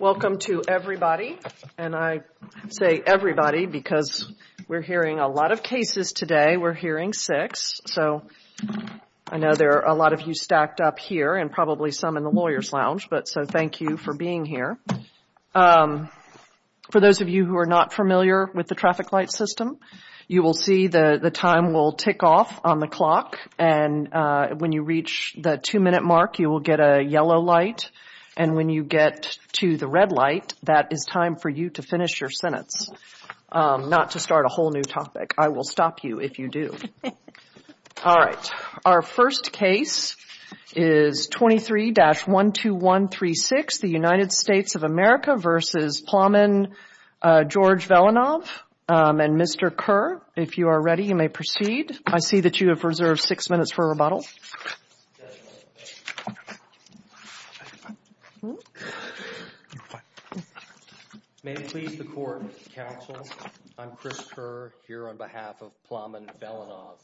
Welcome to everybody and I say everybody because we are hearing a lot of cases today. We are hearing six. I know there are a lot of you stacked up here and probably some in the lawyers lounge, so thank you for being here. For those of you who are not familiar with the traffic light system, you will see the time will tick off on the clock and when you reach the two yellow light and when you get to the red light, that is time for you to finish your sentence. Not to start a whole new topic. I will stop you if you do. Our first case is 23-12136, the United States of America v. Plamen George Velinov. Mr. Kerr, if you are ready, you may proceed. I see that you have reserved six minutes for rebuttal. May it please the court, counsel, I am Chris Kerr here on behalf of Plamen Velinov.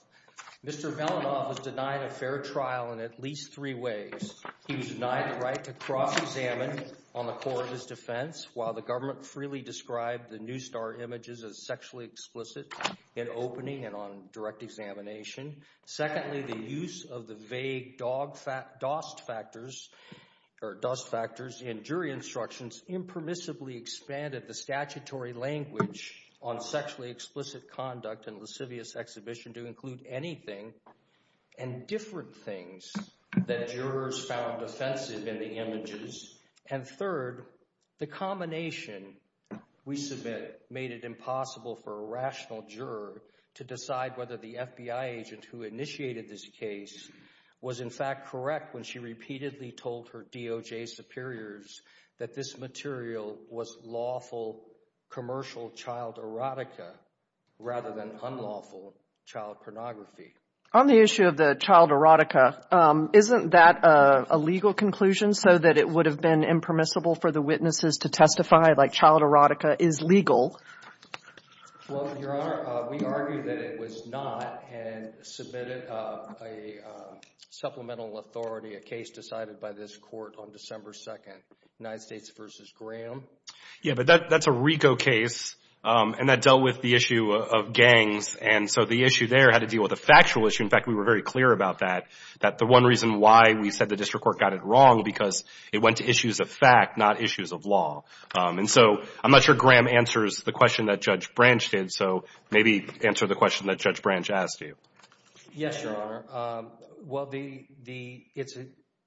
Mr. Velinov was denied a fair trial in at least three ways. He was denied the right to cross-examine on the court of his defense while the government freely described the new star images as sexually explicit in opening and on direct examination. Secondly, the use of the vague DOST factors or DOST factors in jury instructions impermissibly expanded the statutory language on sexually explicit conduct and lascivious exhibition to include anything and different things that jurors found offensive in the images. And third, the combination we submit made it impossible for a rational juror to decide whether the FBI agent who initiated this case was in fact correct when she repeatedly told her DOJ superiors that this material was lawful commercial child erotica rather than unlawful child pornography. On the issue of the child erotica, isn't that a legal conclusion so that it would have been permissible for the witnesses to testify like child erotica is legal? Well, Your Honor, we argue that it was not and submitted a supplemental authority, a case decided by this court on December 2nd, United States v. Graham. Yeah, but that's a RICO case and that dealt with the issue of gangs and so the issue there had to deal with a factual issue. In fact, we were very clear about that, that the one reason why we said the district court got it wrong because it went to issues of fact, not issues of law. And so I'm not sure Graham answers the question that Judge Branch did, so maybe answer the question that Judge Branch asked you. Yes, Your Honor. Well,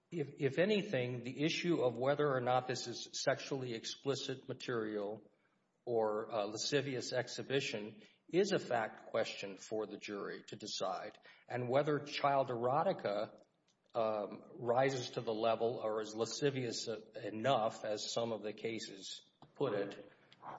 if anything, the issue of whether or not this is sexually explicit material or lascivious exhibition is a fact question for the jury to decide. And whether child erotica rises to the level or is lascivious enough, as some of the cases put it,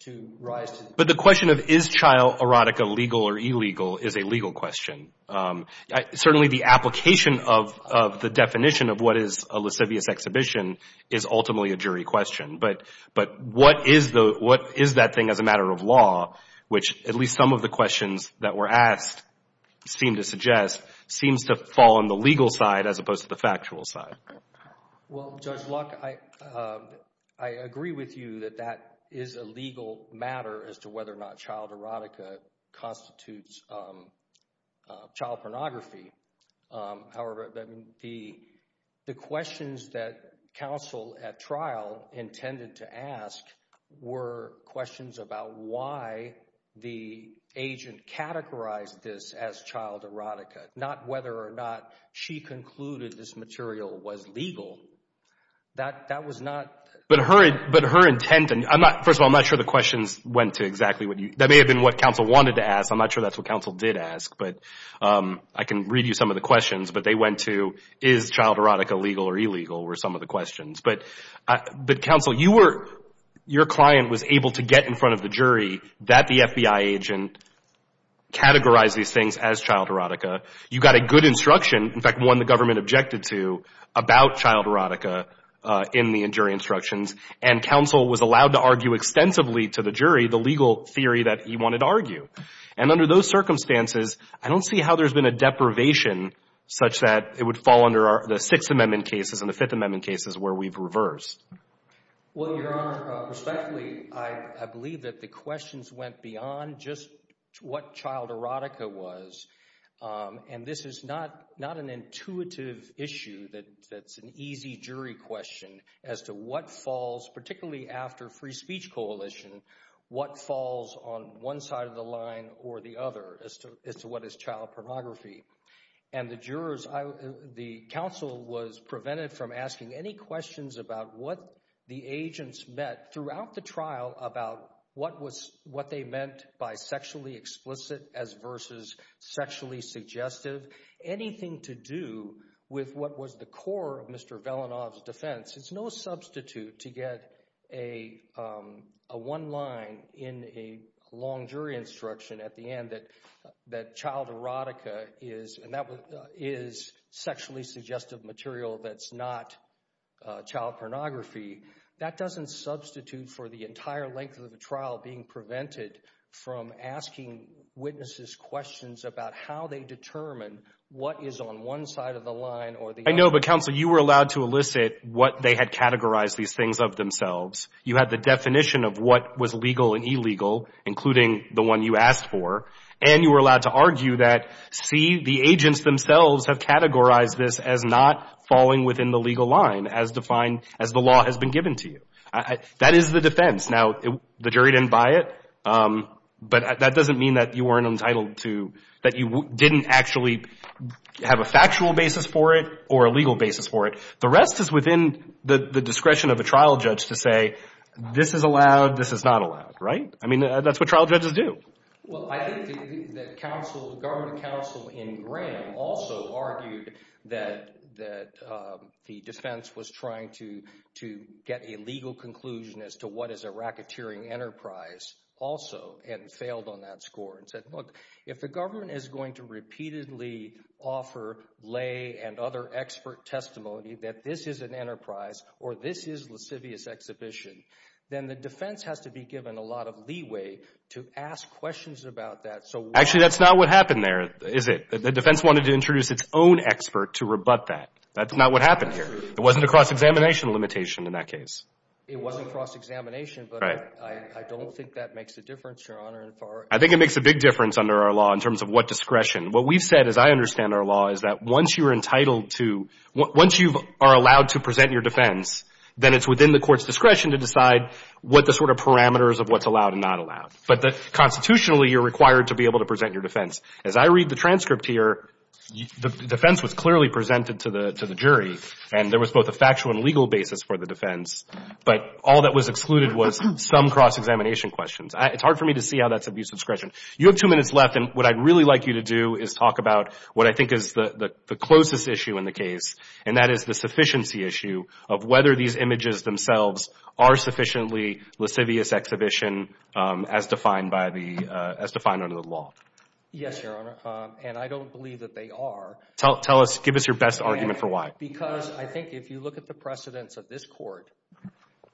to rise to the... But the question of is child erotica legal or illegal is a legal question. Certainly the application of the definition of what is a lascivious exhibition is ultimately a jury question. But what is that thing as a matter of law, which at least some of the questions that were asked seem to suggest, seems to fall on the legal side as opposed to the factual side. Well, Judge Luck, I agree with you that that is a legal matter as to whether or not child erotica constitutes child pornography. However, the questions that counsel at trial intended to ask were questions about why the agent categorized this as child erotica, not whether or not she concluded this material was legal. That was not... But her intent, and first of all, I'm not sure the questions went to exactly what you... That may have been what counsel wanted to ask. I'm not sure that's what counsel did ask, but I can read you some of the questions. But they went to is child erotica legal or some of the questions. But counsel, you were, your client was able to get in front of the jury that the FBI agent categorized these things as child erotica. You got a good instruction, in fact, one the government objected to, about child erotica in the jury instructions. And counsel was allowed to argue extensively to the jury the legal theory that he wanted to argue. And under those circumstances, I don't see how there's been a deprivation such that it would fall under the Sixth Amendment cases and the Fifth Amendment cases where we've reversed. Well, Your Honor, respectfully, I believe that the questions went beyond just what child erotica was. And this is not an intuitive issue that's an easy jury question as to what falls, particularly after free speech coalition, what falls on one side of the line or the other as to what is child pornography. And the jurors, the counsel was prevented from asking any questions about what the agents met throughout the trial about what they meant by sexually explicit as versus sexually suggestive. Anything to do with what was the core of Mr. Velenov's defense. It's no substitute to get a one line in a long jury instruction as to at the end that child erotica is sexually suggestive material that's not child pornography. That doesn't substitute for the entire length of the trial being prevented from asking witnesses questions about how they determine what is on one side of the line or the other. I know, but counsel, you were allowed to elicit what they had categorized these things of themselves. You had the definition of what was legal and illegal, including the one you asked for. And you were allowed to argue that, see, the agents themselves have categorized this as not falling within the legal line as defined, as the law has been given to you. That is the defense. Now, the jury didn't buy it. But that doesn't mean that you weren't entitled to, that you didn't actually have a factual basis for it or a legal basis for it. The rest is within the discretion of a trial judge to say, this is allowed, this is not allowed, right? I mean, that's what trial judges do. Well, I think that counsel, the government counsel in Graham also argued that the defense was trying to get a legal conclusion as to what is a racketeering enterprise also and failed on that score and said, look, if the government is going to repeatedly offer lay and other expert testimony that this is an enterprise or this is lascivious exhibition, then the defense has to be given a lot of leeway to ask questions about that. Actually, that's not what happened there, is it? The defense wanted to introduce its own expert to rebut that. That's not what happened here. It wasn't a cross-examination limitation in that case. It wasn't cross-examination, but I don't think that makes a difference, Your Honor. I think it makes a big difference under our law in terms of what discretion. What we've said, as I understand our law, is that once you're entitled to, once you are allowed to present your defense, then it's within the court's discretion to decide what the sort of parameters of what's allowed and not allowed. But constitutionally, you're required to be able to present your defense. As I read the transcript here, the defense was clearly presented to the jury, and there was both a factual and legal basis for the defense, but all that was excluded was some cross-examination questions. It's hard for me to see how that's abuse of discretion. You have two minutes left, and what I'd really like you to do is talk about what I think is the closest issue in the case, and that is the sufficiency issue of whether these images themselves are sufficiently lascivious exhibition as defined under the law. Yes, Your Honor, and I don't believe that they are. Give us your best argument for why. Because I think if you look at the precedents of this court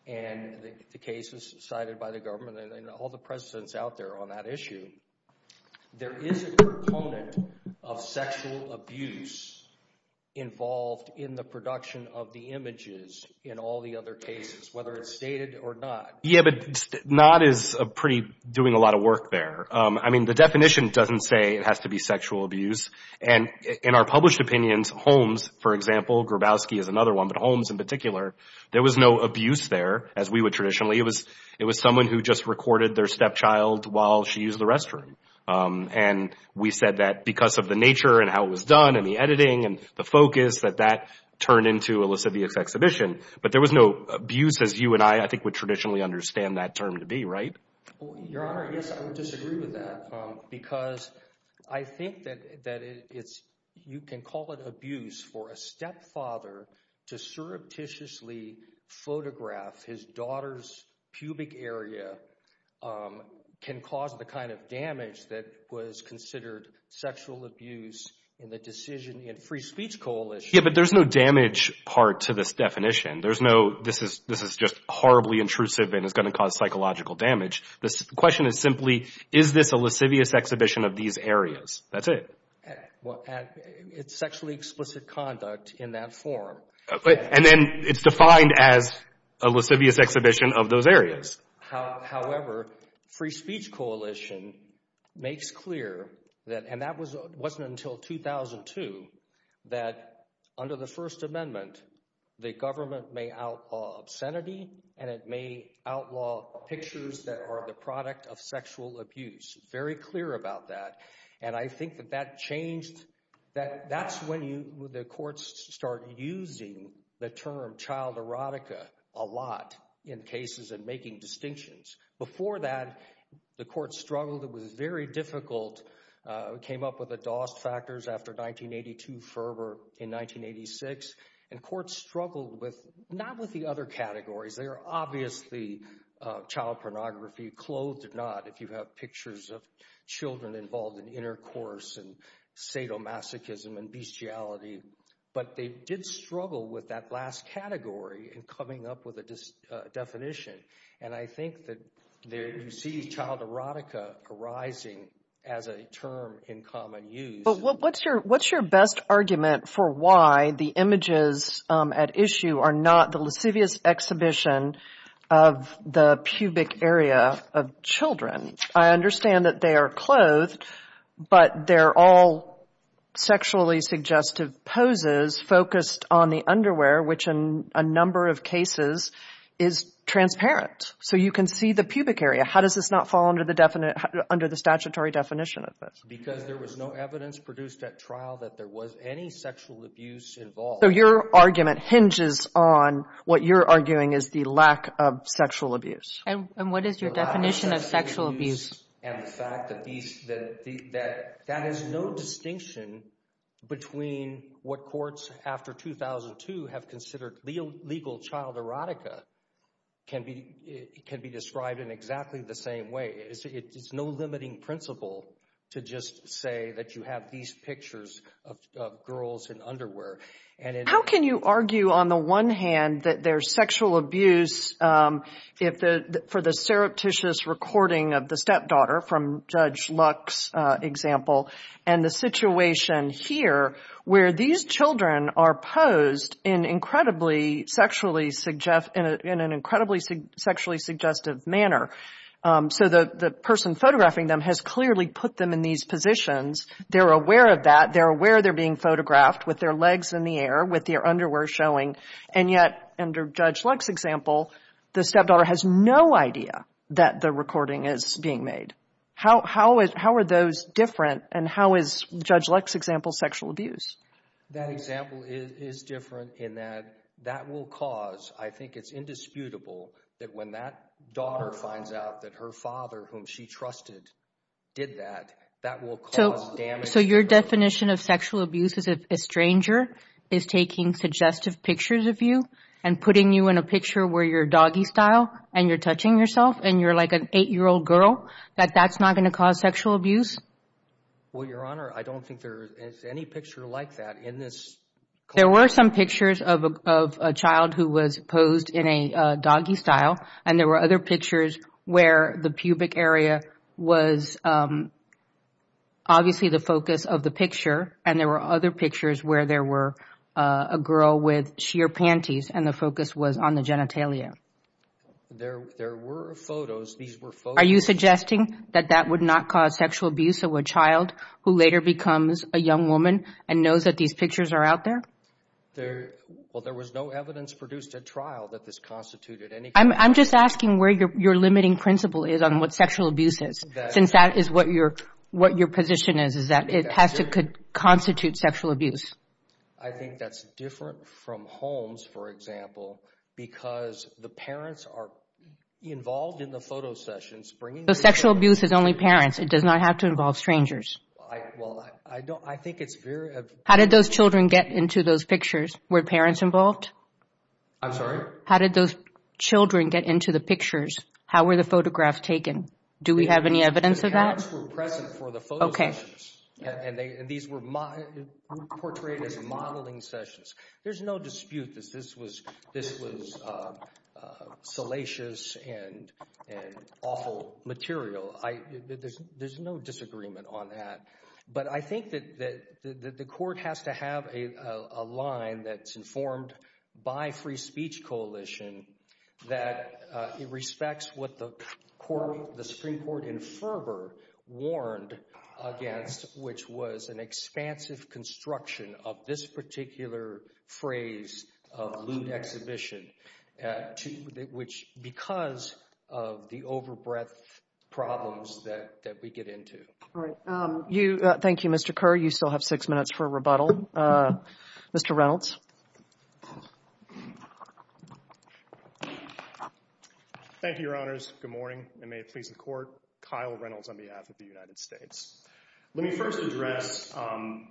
and the cases cited by the government and all the precedents out there on that issue, there is a component of sexual abuse involved in the production of the images in all the other cases, whether it's stated or not. Yeah, but not is pretty doing a lot of work there. I mean, the definition doesn't say it has to be sexual abuse, and in our published opinions, Holmes, for example, Grabowski is another one, but Holmes in particular, there was no abuse there as we would traditionally. It was someone who just recorded their stepchild while she used the restroom, and we said that because of the nature and how it was done and the editing and the focus that that turned into a lascivious exhibition, but there was no abuse as you and I, I think, would traditionally understand that term to be, right? Your Honor, yes, I would disagree with that because I think that you can call it abuse for a stepfather to surreptitiously photograph his daughter's pubic area can cause the kind of damage that was considered sexual abuse in the decision in Free Speech Coalition. Yeah, but there's no damage part to this definition. There's no, this is just horribly intrusive and it's going to cause psychological damage. The question is simply, is this a lascivious exhibition of these areas? That's it. Well, it's sexually explicit conduct in that form. And then it's defined as a lascivious exhibition of those areas. However, Free Speech Coalition makes clear that, and that wasn't until 2002, that under the First Amendment, the government may outlaw obscenity and it may outlaw pictures that are the product of sexual abuse. Very clear about that. And I think that that changed, that that's when you, the courts start using the term child erotica a lot in cases and making distinctions. Before that, the court struggled, it was very difficult, came up with the Dost factors after 1982, Ferber in 1986, and courts struggled with, not with the other categories, they obviously, child pornography, clothed or not, if you have pictures of children involved in intercourse and sadomasochism and bestiality, but they did struggle with that last category in coming up with a definition. And I think that you see child erotica arising as a term in common use. But what's your best argument for why the images at issue are not the lascivious exhibition of the pubic area of children? I understand that they are clothed, but they're all sexually suggestive poses focused on the underwear, which in a number of cases is transparent. So you can see the pubic area. How does this not fall under the statutory definition of this? Because there was no evidence produced at trial that there was any sexual abuse involved. So your argument hinges on what you're arguing is the lack of sexual abuse. And what is your definition of sexual abuse? And the fact that that is no distinction between what courts after 2002 have considered legal child erotica can be described in exactly the same way. It's no limiting principle to just say that you have these pictures of girls in underwear. How can you argue on the one hand that there's sexual abuse for the surreptitious recording of the stepdaughter, from Judge Luck's example, and the situation here where these children are posed in an incredibly sexually suggestive manner? So the person photographing them has clearly put them in these positions. They're aware of that. They're aware they're being photographed with their legs in the air, with their underwear showing. And yet, under Judge Luck's example, the stepdaughter has no idea that the recording is being made. How are those different, and how is Judge Luck's example sexual abuse? That example is different in that that will cause, I think it's indisputable, that when that daughter finds out that her father whom she trusted did that, that will cause damage. So your definition of sexual abuse is if a stranger is taking suggestive pictures of you and putting you in a picture where you're doggie style and you're touching yourself and you're like an eight-year-old girl, that that's not going to cause sexual abuse? Well, Your Honor, I don't think there is any picture like that in this. There were some pictures of a child who was posed in a doggie style, and there were other pictures where the pubic area was obviously the focus of the picture, and there were other pictures where there were a girl with sheer panties and the focus was on the genitalia. There were photos. These were photos. Are you suggesting that that would not cause sexual abuse of a child who later becomes a young woman and knows that these pictures are out there? Well, there was no evidence produced at trial that this constituted any kind of sexual abuse. I'm just asking where your limiting principle is on what sexual abuse is, since that is what your position is, is that it has to constitute sexual abuse. I think that's different from Holmes, for example, because the parents are involved in the photo sessions. Sexual abuse is only parents. It does not have to involve strangers. How did those children get into those pictures? Were parents involved? I'm sorry? How did those children get into the pictures? How were the photographs taken? Do we have any evidence of that? The parents were present for the photo sessions, and these were portrayed as modeling sessions. There's no dispute that this was salacious and awful material. There's no disagreement on that. But I think that the court has to have a line that's informed by Free Speech Coalition that respects what the Supreme Court in Ferber warned against, which was an expansive construction of this particular phrase of lewd exhibition, which because of the over-breath problems that we get into. Thank you, Mr. Kerr. You still have six minutes for a rebuttal. Mr. Reynolds. Thank you, Your Honors. Good morning, and may it please the Court. Kyle Reynolds on behalf of the United States. Let me first address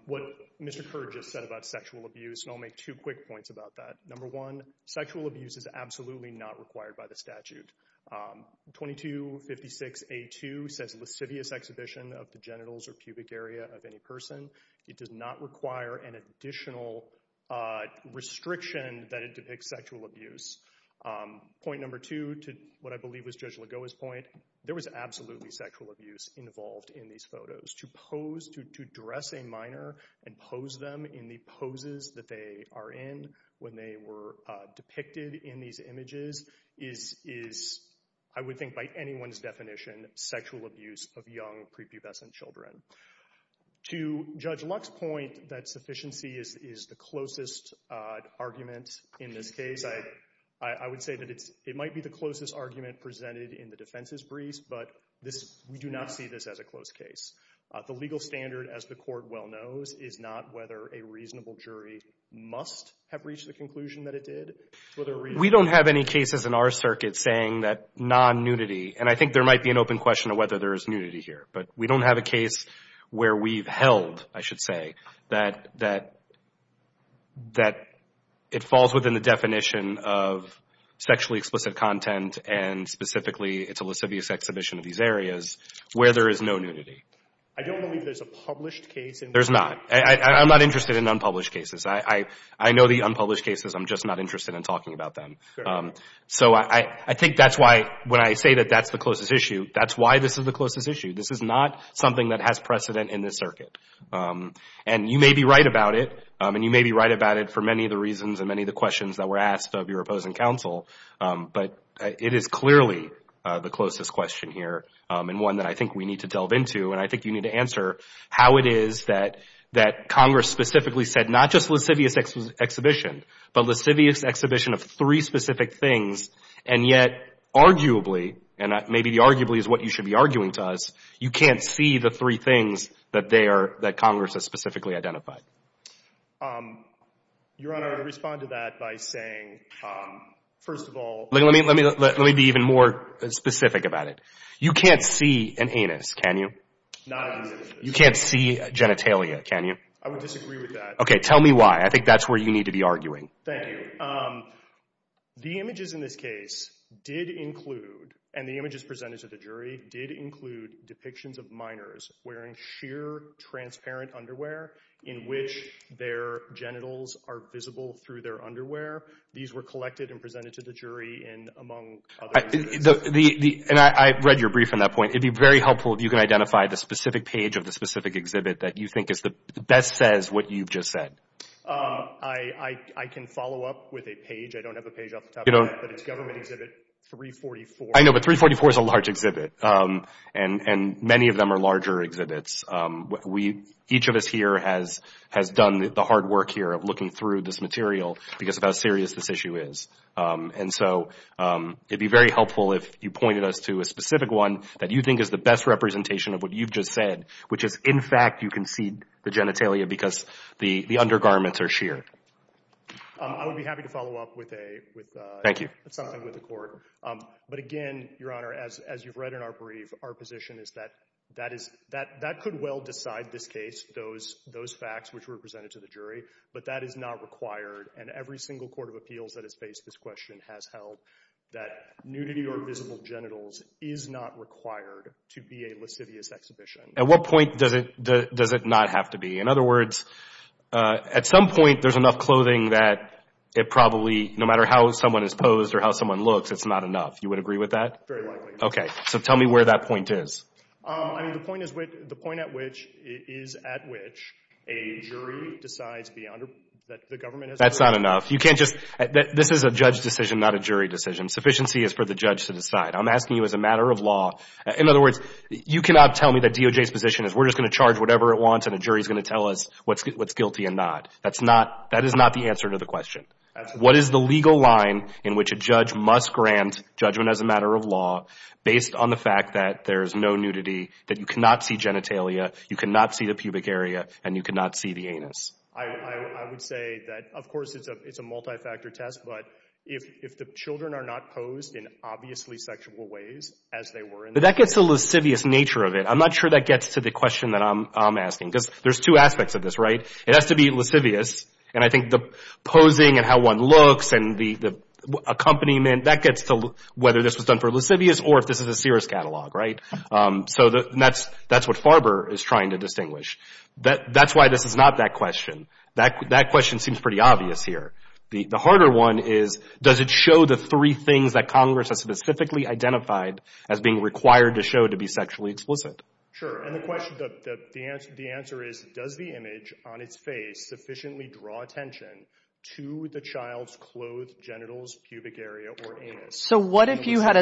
what Mr. Kerr just said about sexual abuse, and I'll make two quick points about that. Number one, sexual abuse is absolutely not required by the statute. 2256A2 says lascivious exhibition of the genitals or pubic area of any person. It does not require an additional restriction that it depicts sexual abuse. Point number two, to what I believe was Judge Lagoa's point, there was absolutely sexual abuse involved in these photos. To pose, to dress a minor and pose them in the poses that they are in when they were depicted in these images is, I would think by anyone's definition, sexual abuse of young prepubescent children. To Judge Luck's point that sufficiency is the closest argument in this case, I would say that it might be the closest argument presented in the defense's briefs, but we do not see this as a close case. The legal standard, as the Court well knows, is not whether a reasonable jury must have reached the conclusion that it did. We don't have any cases in our circuit saying that non-nudity, and I think there might be an open question of whether there is nudity here, but we don't have a case where we've held, I should say, that it falls within the definition of sexually explicit content and specifically it's a lascivious exhibition of these areas where there is no nudity. I don't believe there's a published case in which... There's not. I'm not interested in unpublished cases. I know the unpublished cases, I'm just not interested in talking about them. So I think that's why, when I say that that's the closest issue, that's why this is the closest issue. This is not something that has precedent in this circuit. And you may be right about it, and you may be right about it for many of the reasons and many of the questions that were asked of your opposing counsel, but it is clearly the closest question here and one that I think we need to delve into, and I think you need to answer how it is that Congress specifically said, not just lascivious exhibition, but lascivious exhibition of three specific things, and yet arguably, and maybe the arguably is what you should be arguing to us, you can't see the three things that Congress has specifically identified. Your Honor, I would respond to that by saying, first of all... Let me be even more specific about it. You can't see an anus, can you? Not an anus. You can't see genitalia, can you? I would disagree with that. Okay, tell me why. I think that's where you need to be arguing. Thank you. The images in this case did include, and the images presented to the jury did include depictions of minors wearing sheer transparent underwear in which their genitals are visible through their underwear. These were collected and presented to the jury in, among other... And I read your brief on that point, it'd be very helpful if you can identify the specific page of the specific exhibit that you think best says what you've just said. I can follow up with a page, I don't have a page off the top of my head, but it's government exhibit 344. I know, but 344 is a large exhibit, and many of them are larger exhibits. Each of us here has done the hard work here of looking through this material because of how serious this issue is. And so, it'd be very helpful if you pointed us to a specific one that you think is the best representation of what you've just said, which is, in fact, you can see the genitalia because the undergarments are sheer. I would be happy to follow up with a... Thank you. ...something with the court. But again, Your Honor, as you've read in our brief, our position is that that could well decide this case, those facts which were presented to the jury, but that is not required. And every single court of appeals that has faced this question has held that nudity or visible genitals is not required to be a lascivious exhibition. At what point does it not have to be? In other words, at some point, there's enough clothing that it probably, no matter how someone is posed or how someone looks, it's not enough. You would agree with that? Very likely. Okay. So, tell me where that point is. I mean, the point is, the point at which, is at which a jury decides that the government has... That's not enough. You can't just... This is a judge decision, not a jury decision. Sufficiency is for the judge to decide. I'm asking you as a matter of law. In other words, you cannot tell me that DOJ's position is we're just going to charge whatever it wants and a jury is going to tell us what's guilty and not. That's not, that is not the answer to the question. What is the legal line in which a judge must grant judgment as a matter of law based on the fact that there is no nudity, that you cannot see genitalia, you cannot see the pubic area, and you cannot see the anus? I would say that, of course, it's a multi-factor test, but if the children are not posed in obviously sexual ways as they were in the... But that gets to the lascivious nature of it. I'm not sure that gets to the question that I'm asking, because there's two aspects of this, right? It has to be lascivious, and I think the posing and how one looks and the accompaniment, that gets to whether this was done for lascivious or if this is a serious catalog, right? So that's what Farber is trying to distinguish. That's why this is not that question. That question seems pretty obvious here. The harder one is, does it show the three things that Congress has specifically identified as being required to show to be sexually explicit? Sure. And the question, the answer is, does the image on its face sufficiently draw attention to the child's clothed genitals, pubic area, or anus? So what if you had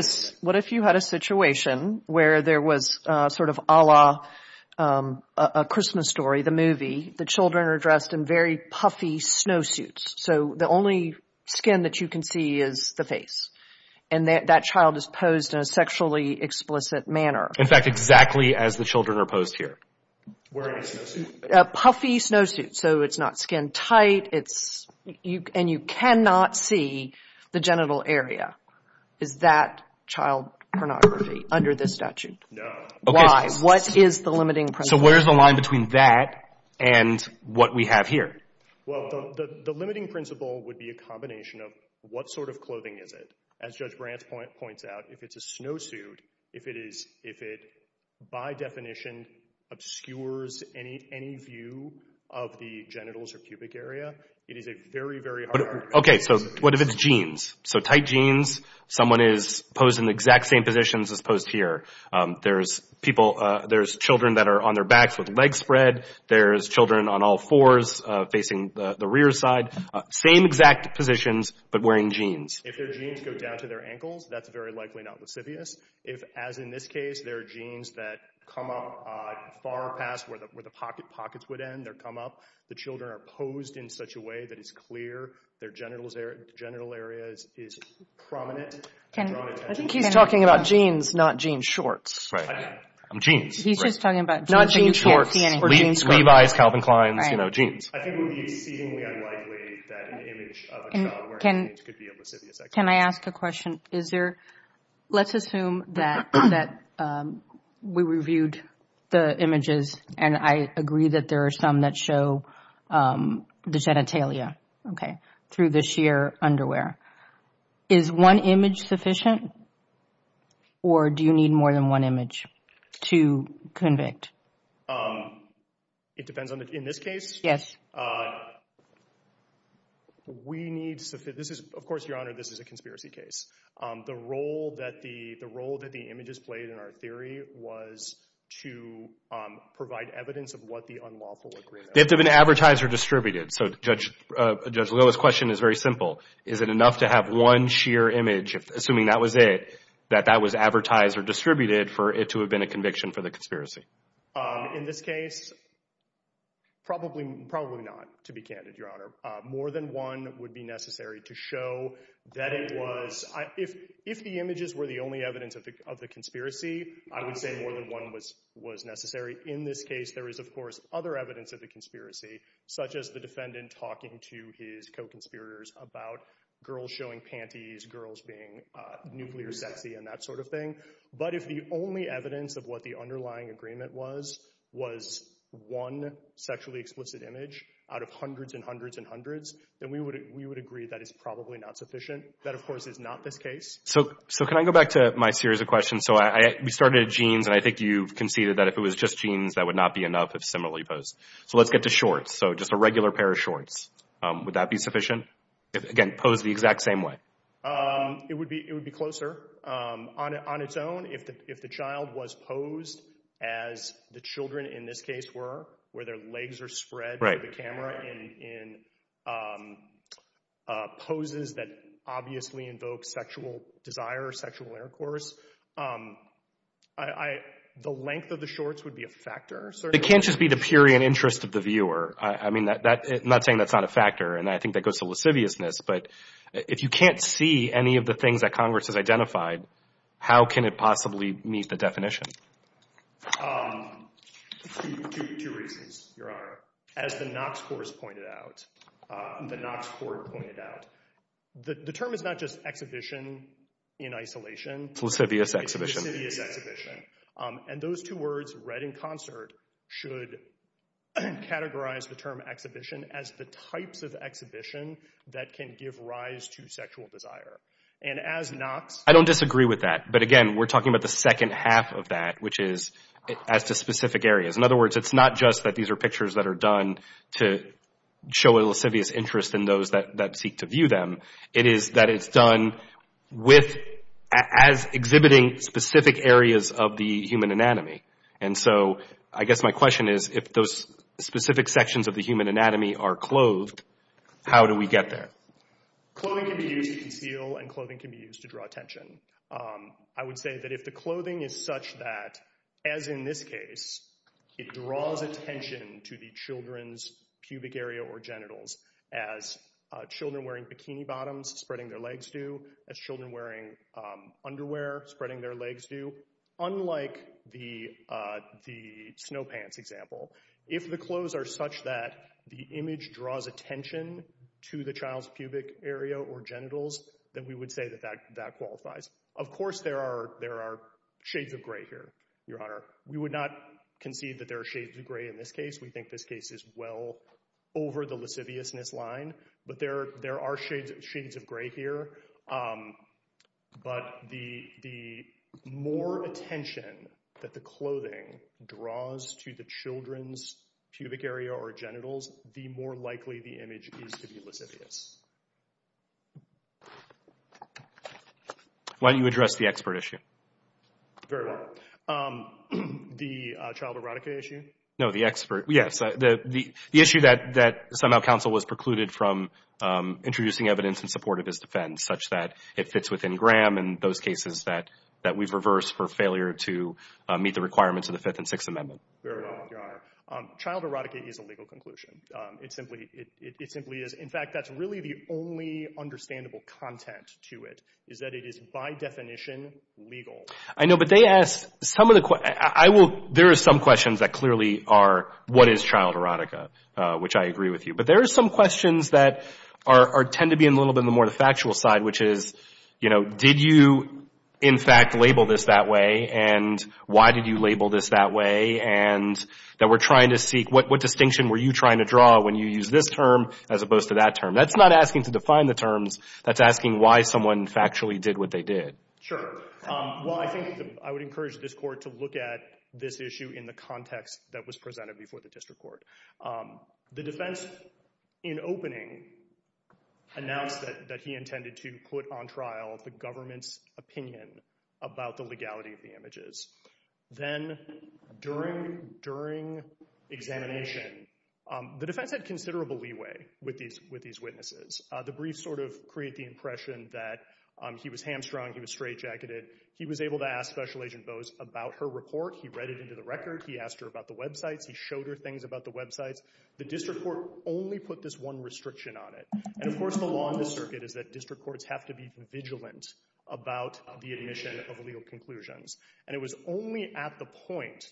a situation where there was sort of a Christmas story, the movie, the children are dressed in very puffy snowsuits. So the only skin that you can see is the face, and that child is posed in a sexually explicit manner. In fact, exactly as the children are posed here. Wearing a snowsuit. A puffy snowsuit, so it's not skin tight, and you cannot see the genital area. Is that child pornography under this statute? No. Why? What is the limiting principle? So where's the line between that and what we have here? Well, the limiting principle would be a combination of what sort of clothing is it? As Judge Brant points out, if it's a snowsuit, if it is, if it by definition obscures any view of the genitals or pubic area, it is a very, very hard- Okay, so what if it's jeans? So tight jeans, someone is posed in the exact same positions as posed here. There's people, there's children that are on their backs with legs spread. There's children on all fours facing the rear side. Same exact positions, but wearing jeans. If their jeans go down to their ankles, that's very likely not lascivious. If, as in this case, there are jeans that come up far past where the pockets would end, they come up, the children are posed in such a way that it's clear, their genital area is prominent. I think he's talking about jeans, not jean shorts. Right. Jeans. He's just talking about jeans. Not jean shorts. Levi's, Calvin Klein's, you know, jeans. I think it would be exceedingly unlikely that an image of a child wearing jeans could be a lascivious activity. Can I ask a question? Is there, let's assume that we reviewed the images and I agree that there are some that show the genitalia, okay, through the sheer underwear. Is one image sufficient or do you need more than one image to convict? It depends on the, in this case? Yes. We need, this is, of course, Your Honor, this is a conspiracy case. The role that the images played in our theory was to provide evidence of what the unlawful agreement was. They have to have been advertised or distributed. So, Judge Lewis' question is very simple. Is it enough to have one sheer image, assuming that was it, that that was advertised or distributed for it to have been a conviction for the conspiracy? In this case, probably not, to be candid, Your Honor. More than one would be necessary to show that it was, if the images were the only evidence of the conspiracy, I would say more than one was necessary. In this case, there is, of course, other evidence of the conspiracy, such as the defendant talking to his co-conspirators about girls showing panties, girls being nuclear sexy and that sort of thing. But if the only evidence of what the underlying agreement was, was one sexually explicit image out of hundreds and hundreds and hundreds, then we would, we would agree that it's probably not sufficient. That, of course, is not this case. So, so can I go back to my series of questions? So I, we started at jeans and I think you've conceded that if it was just jeans, that would not be enough if similarly posed. So let's get to shorts. So just a regular pair of shorts. Would that be sufficient? If, again, posed the exact same way? It would be, it would be closer. On its own, if the child was posed as the children in this case were, where their legs are spread to the camera in poses that obviously invoke sexual desire or sexual intercourse, the length of the shorts would be a factor. It can't just be the pure interest of the viewer. I mean, I'm not saying that's not a factor, and I think that goes to lasciviousness, but if you can't see any of the things that Congress has identified, how can it possibly meet the Two reasons, Your Honor. As the Knox Court has pointed out, the Knox Court pointed out, the term is not just exhibition in isolation. It's lascivious exhibition. And those two words, read in concert, should categorize the term exhibition as the types of exhibition that can give rise to sexual desire. And as Knox... I don't disagree with that. But again, we're talking about the second half of that, which is as to specific areas. In other words, it's not just that these are pictures that are done to show a lascivious interest in those that seek to view them. It is that it's done with, as exhibiting specific areas of the human anatomy. And so, I guess my question is, if those specific sections of the human anatomy are clothed, how do we get there? Clothing can be used to conceal, and clothing can be used to draw attention. I would say that if the clothing is such that, as in this case, it draws attention to the children's pubic area or genitals, as children wearing bikini bottoms spreading their legs do, as children wearing underwear spreading their legs do. So, unlike the snow pants example, if the clothes are such that the image draws attention to the child's pubic area or genitals, then we would say that that qualifies. Of course, there are shades of gray here, Your Honor. We would not concede that there are shades of gray in this case. We think this case is well over the lasciviousness line. But there are shades of gray here. But the more attention that the clothing draws to the children's pubic area or genitals, the more likely the image is to be lascivious. Why don't you address the expert issue? Very well. The child erotica issue? No, the expert. Yes, the issue that somehow counsel was precluded from introducing evidence in support of his defense, such that it fits within Graham and those cases that we've reversed for failure to meet the requirements of the Fifth and Sixth Amendment. Very well, Your Honor. Child erotica is a legal conclusion. It simply is. In fact, that's really the only understandable content to it, is that it is, by definition, legal. I know, but they ask some of the questions. There are some questions that clearly are, what is child erotica, which I agree with you. But there are some questions that tend to be a little bit more on the factual side, which is, did you, in fact, label this that way? And why did you label this that way? And that we're trying to seek, what distinction were you trying to draw when you use this term as opposed to that term? That's not asking to define the terms. That's asking why someone factually did what they did. Well, I think I would encourage this Court to look at this issue in the context that was presented before the District Court. The defense, in opening, announced that he intended to put on trial the government's opinion about the legality of the images. Then, during examination, the defense had considerable leeway with these witnesses. The briefs sort of create the impression that he was hamstrung, he was straightjacketed. He was able to ask Special Agent Bowes about her report. He read it into the record. He asked her about the websites. He showed her things about the websites. The District Court only put this one restriction on it. And, of course, the law on the circuit is that District Courts have to be vigilant about the admission of legal conclusions. And it was only at the point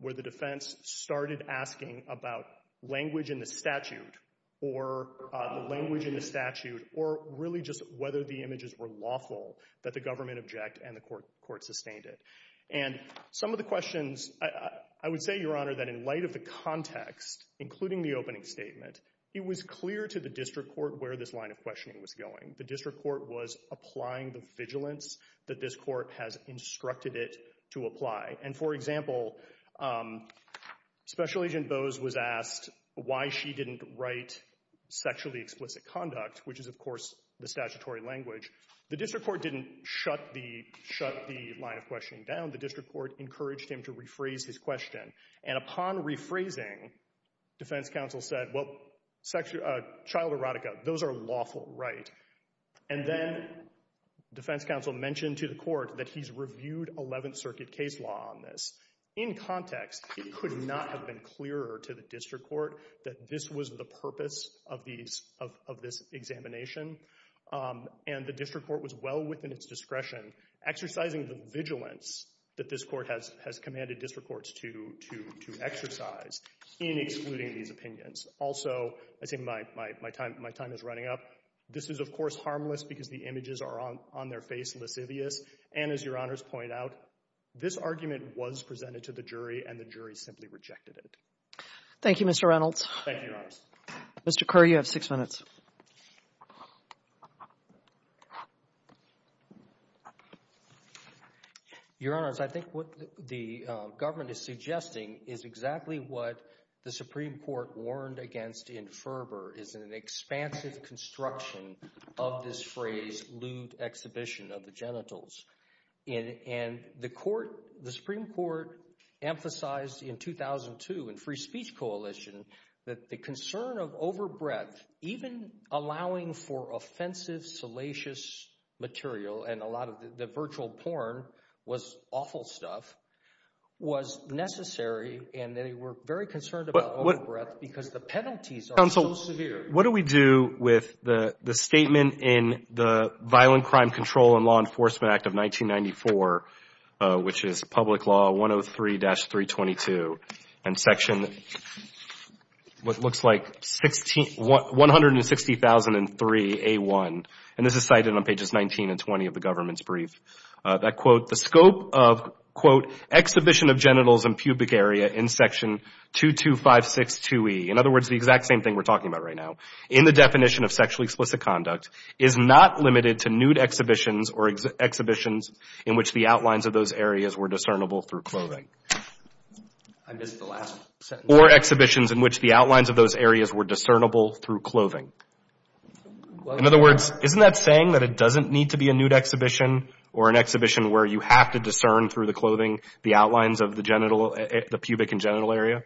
where the defense started asking about language in the statute or the language in the statute or really just whether the images were lawful that the government objected and the Court sustained it. And some of the questions, I would say, Your Honor, that in light of the context, including the opening statement, it was clear to the District Court where this line of questioning was going. The District Court was applying the vigilance that this Court has instructed it to apply. And, for example, Special Agent Bowes was asked why she didn't write sexually explicit conduct, which is, of course, the statutory language. The District Court didn't shut the line of questioning down. The District Court encouraged him to rephrase his question. And upon rephrasing, Defense Counsel said, well, child erotica, those are lawful, right? And then Defense Counsel mentioned to the Court that he's reviewed Eleventh Circuit case law on this. In context, it could not have been clearer to the District Court that this was the purpose of this examination. And the District Court was well within its discretion exercising the vigilance that this Court has commanded District Courts to exercise in excluding these opinions. Also, I think my time is running up. This is, of course, harmless because the images are on their face lascivious. And as Your Honors point out, this argument was presented to the jury and the jury simply rejected it. Thank you, Mr. Reynolds. Thank you, Your Honors. Mr. Kerr, you have six minutes. Your Honors, I think what the government is suggesting is exactly what the Supreme Court warned against in fervor is an expansive construction of this phrase, lewd exhibition of the genitals. And the Supreme Court emphasized in 2002 in Free Speech Coalition that the concern of overbreath, even allowing for offensive salacious material and a lot of the virtual porn was awful stuff, was necessary and they were very concerned about overbreath because the penalties are so severe. Counsel, what do we do with the statement in the Violent Crime Control and Law Enforcement Act of 1994, which is Public Law 103-322 and Section, what looks like, 160,003A1, and this is cited on pages 19 and 20 of the government's brief, that, quote, the scope of, quote, exhibition of genitals and pubic area in Section 22562E, in other words, the exact same thing we're talking about right now, in the definition of sexually explicit not limited to nude exhibitions or exhibitions in which the outlines of those areas were discernible through clothing. I missed the last sentence. Or exhibitions in which the outlines of those areas were discernible through clothing. In other words, isn't that saying that it doesn't need to be a nude exhibition or an exhibition where you have to discern through the clothing the outlines of the genital, the pubic and genital area?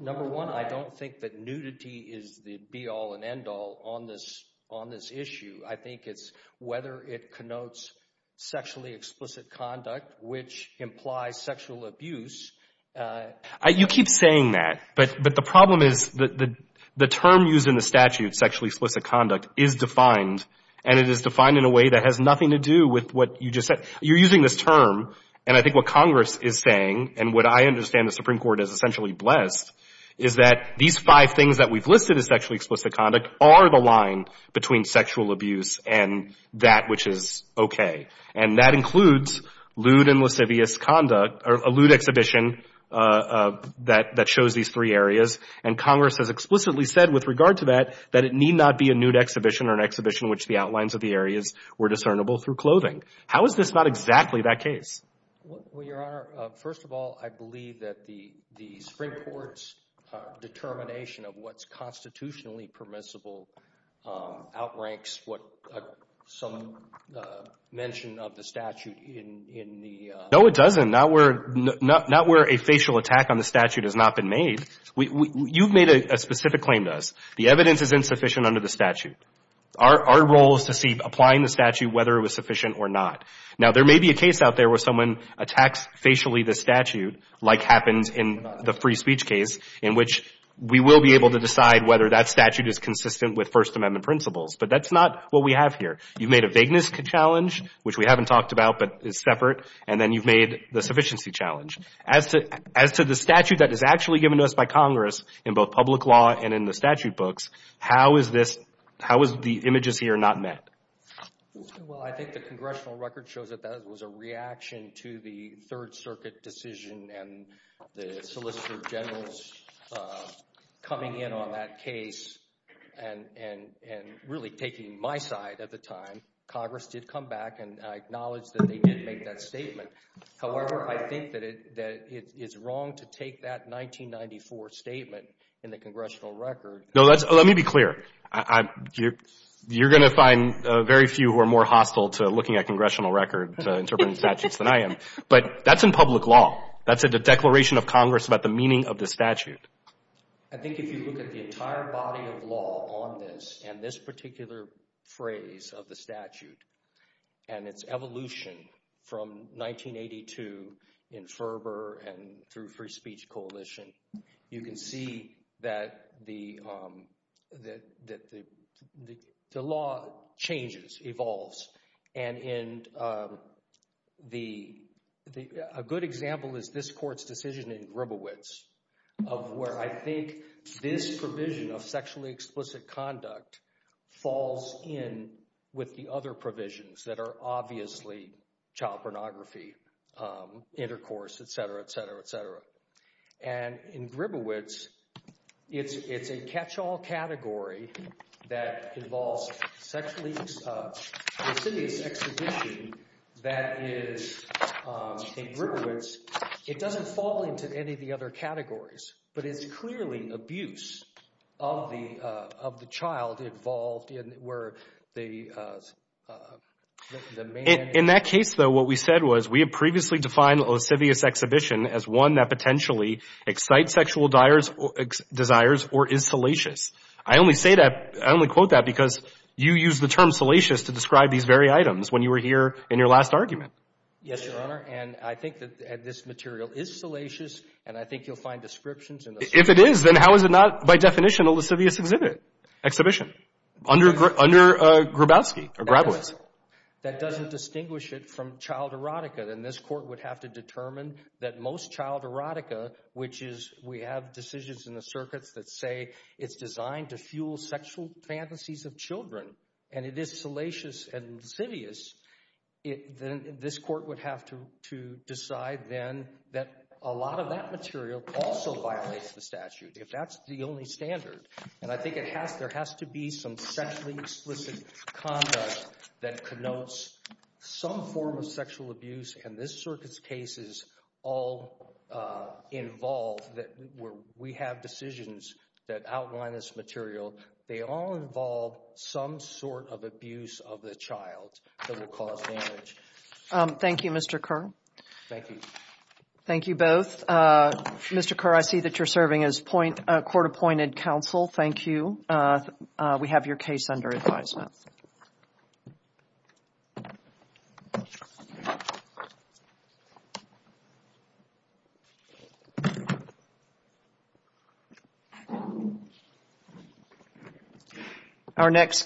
Number one, I don't think that nudity is the be-all and end-all on this issue. I think it's whether it connotes sexually explicit conduct, which implies sexual abuse. You keep saying that, but the problem is the term used in the statute, sexually explicit conduct, is defined, and it is defined in a way that has nothing to do with what you just said. You're using this term, and I think what Congress is saying, and what I understand the Supreme Court is essentially blessed, is that these five things that we've listed as sexually explicit conduct are the line between sexual abuse and that which is okay. And that includes lewd and lascivious conduct, or a lewd exhibition that shows these three areas, and Congress has explicitly said with regard to that, that it need not be a nude exhibition or an exhibition in which the outlines of the areas were discernible through clothing. How is this not exactly that case? Well, Your Honor, first of all, I believe that the Supreme Court's determination of what's constitutionally permissible outranks what some mention of the statute in the… No, it doesn't. Not where a facial attack on the statute has not been made. You've made a specific claim to us. The evidence is insufficient under the statute. Our role is to see, applying the statute, whether it was sufficient or not. Now, there may be a case out there where someone attacks facially the statute, like happens in the free speech case, in which we will be able to decide whether that statute is consistent with First Amendment principles, but that's not what we have here. You've made a vagueness challenge, which we haven't talked about, but it's separate, and then you've made the sufficiency challenge. As to the statute that is actually given to us by Congress in both public law and in the statute books, how is this, how is the images here not met? Well, I think the congressional record shows that that was a reaction to the Third Circuit decision and the Solicitor General's coming in on that case and really taking my side at the time. Congress did come back, and I acknowledge that they did make that statement. However, I think that it's wrong to take that 1994 statement in the congressional record. No, let me be clear. You're going to find very few who are more hostile to looking at congressional record interpreting statutes than I am, but that's in public law. That's in the declaration of Congress about the meaning of the statute. I think if you look at the entire body of law on this and this particular phrase of the statute and its evolution from 1982 in Ferber and through free speech coalition, you can see that the law changes, evolves. And a good example is this court's decision in Gribowitz of where I think this provision of sexually explicit conduct falls in with the other provisions that are obviously child pornography, intercourse, et cetera, et cetera, et cetera. And in Gribowitz, it's a catch-all category that involves a sex addiction that is in Gribowitz. It doesn't fall into any of the other categories, but it's clearly abuse of the child involved where the man… In that case, though, what we said was we had previously defined a lascivious exhibition as one that potentially excites sexual desires or is salacious. I only say that, I only quote that because you used the term salacious to describe these very items when you were here in your last argument. Yes, Your Honor. And I think that this material is salacious, and I think you'll find descriptions in the statute. If it is, then how is it not by definition a lascivious exhibit, exhibition, under Gribowitz? That doesn't distinguish it from child erotica. Then this court would have to determine that most child erotica, which is we have decisions in the circuits that say it's designed to fuel sexual fantasies of children and it is salacious and lascivious, then this court would have to decide then that a lot of that material also violates the statute if that's the only standard. And I think there has to be some sexually explicit conduct that connotes some form of sexual abuse, and this circuit's cases all involve that where we have decisions that outline this material. They all involve some sort of abuse of the child that will cause damage. Thank you, Mr. Kerr. Thank you. Thank you both. Mr. Kerr, I see that you're serving as court-appointed counsel. Thank you. We have your case under advisement.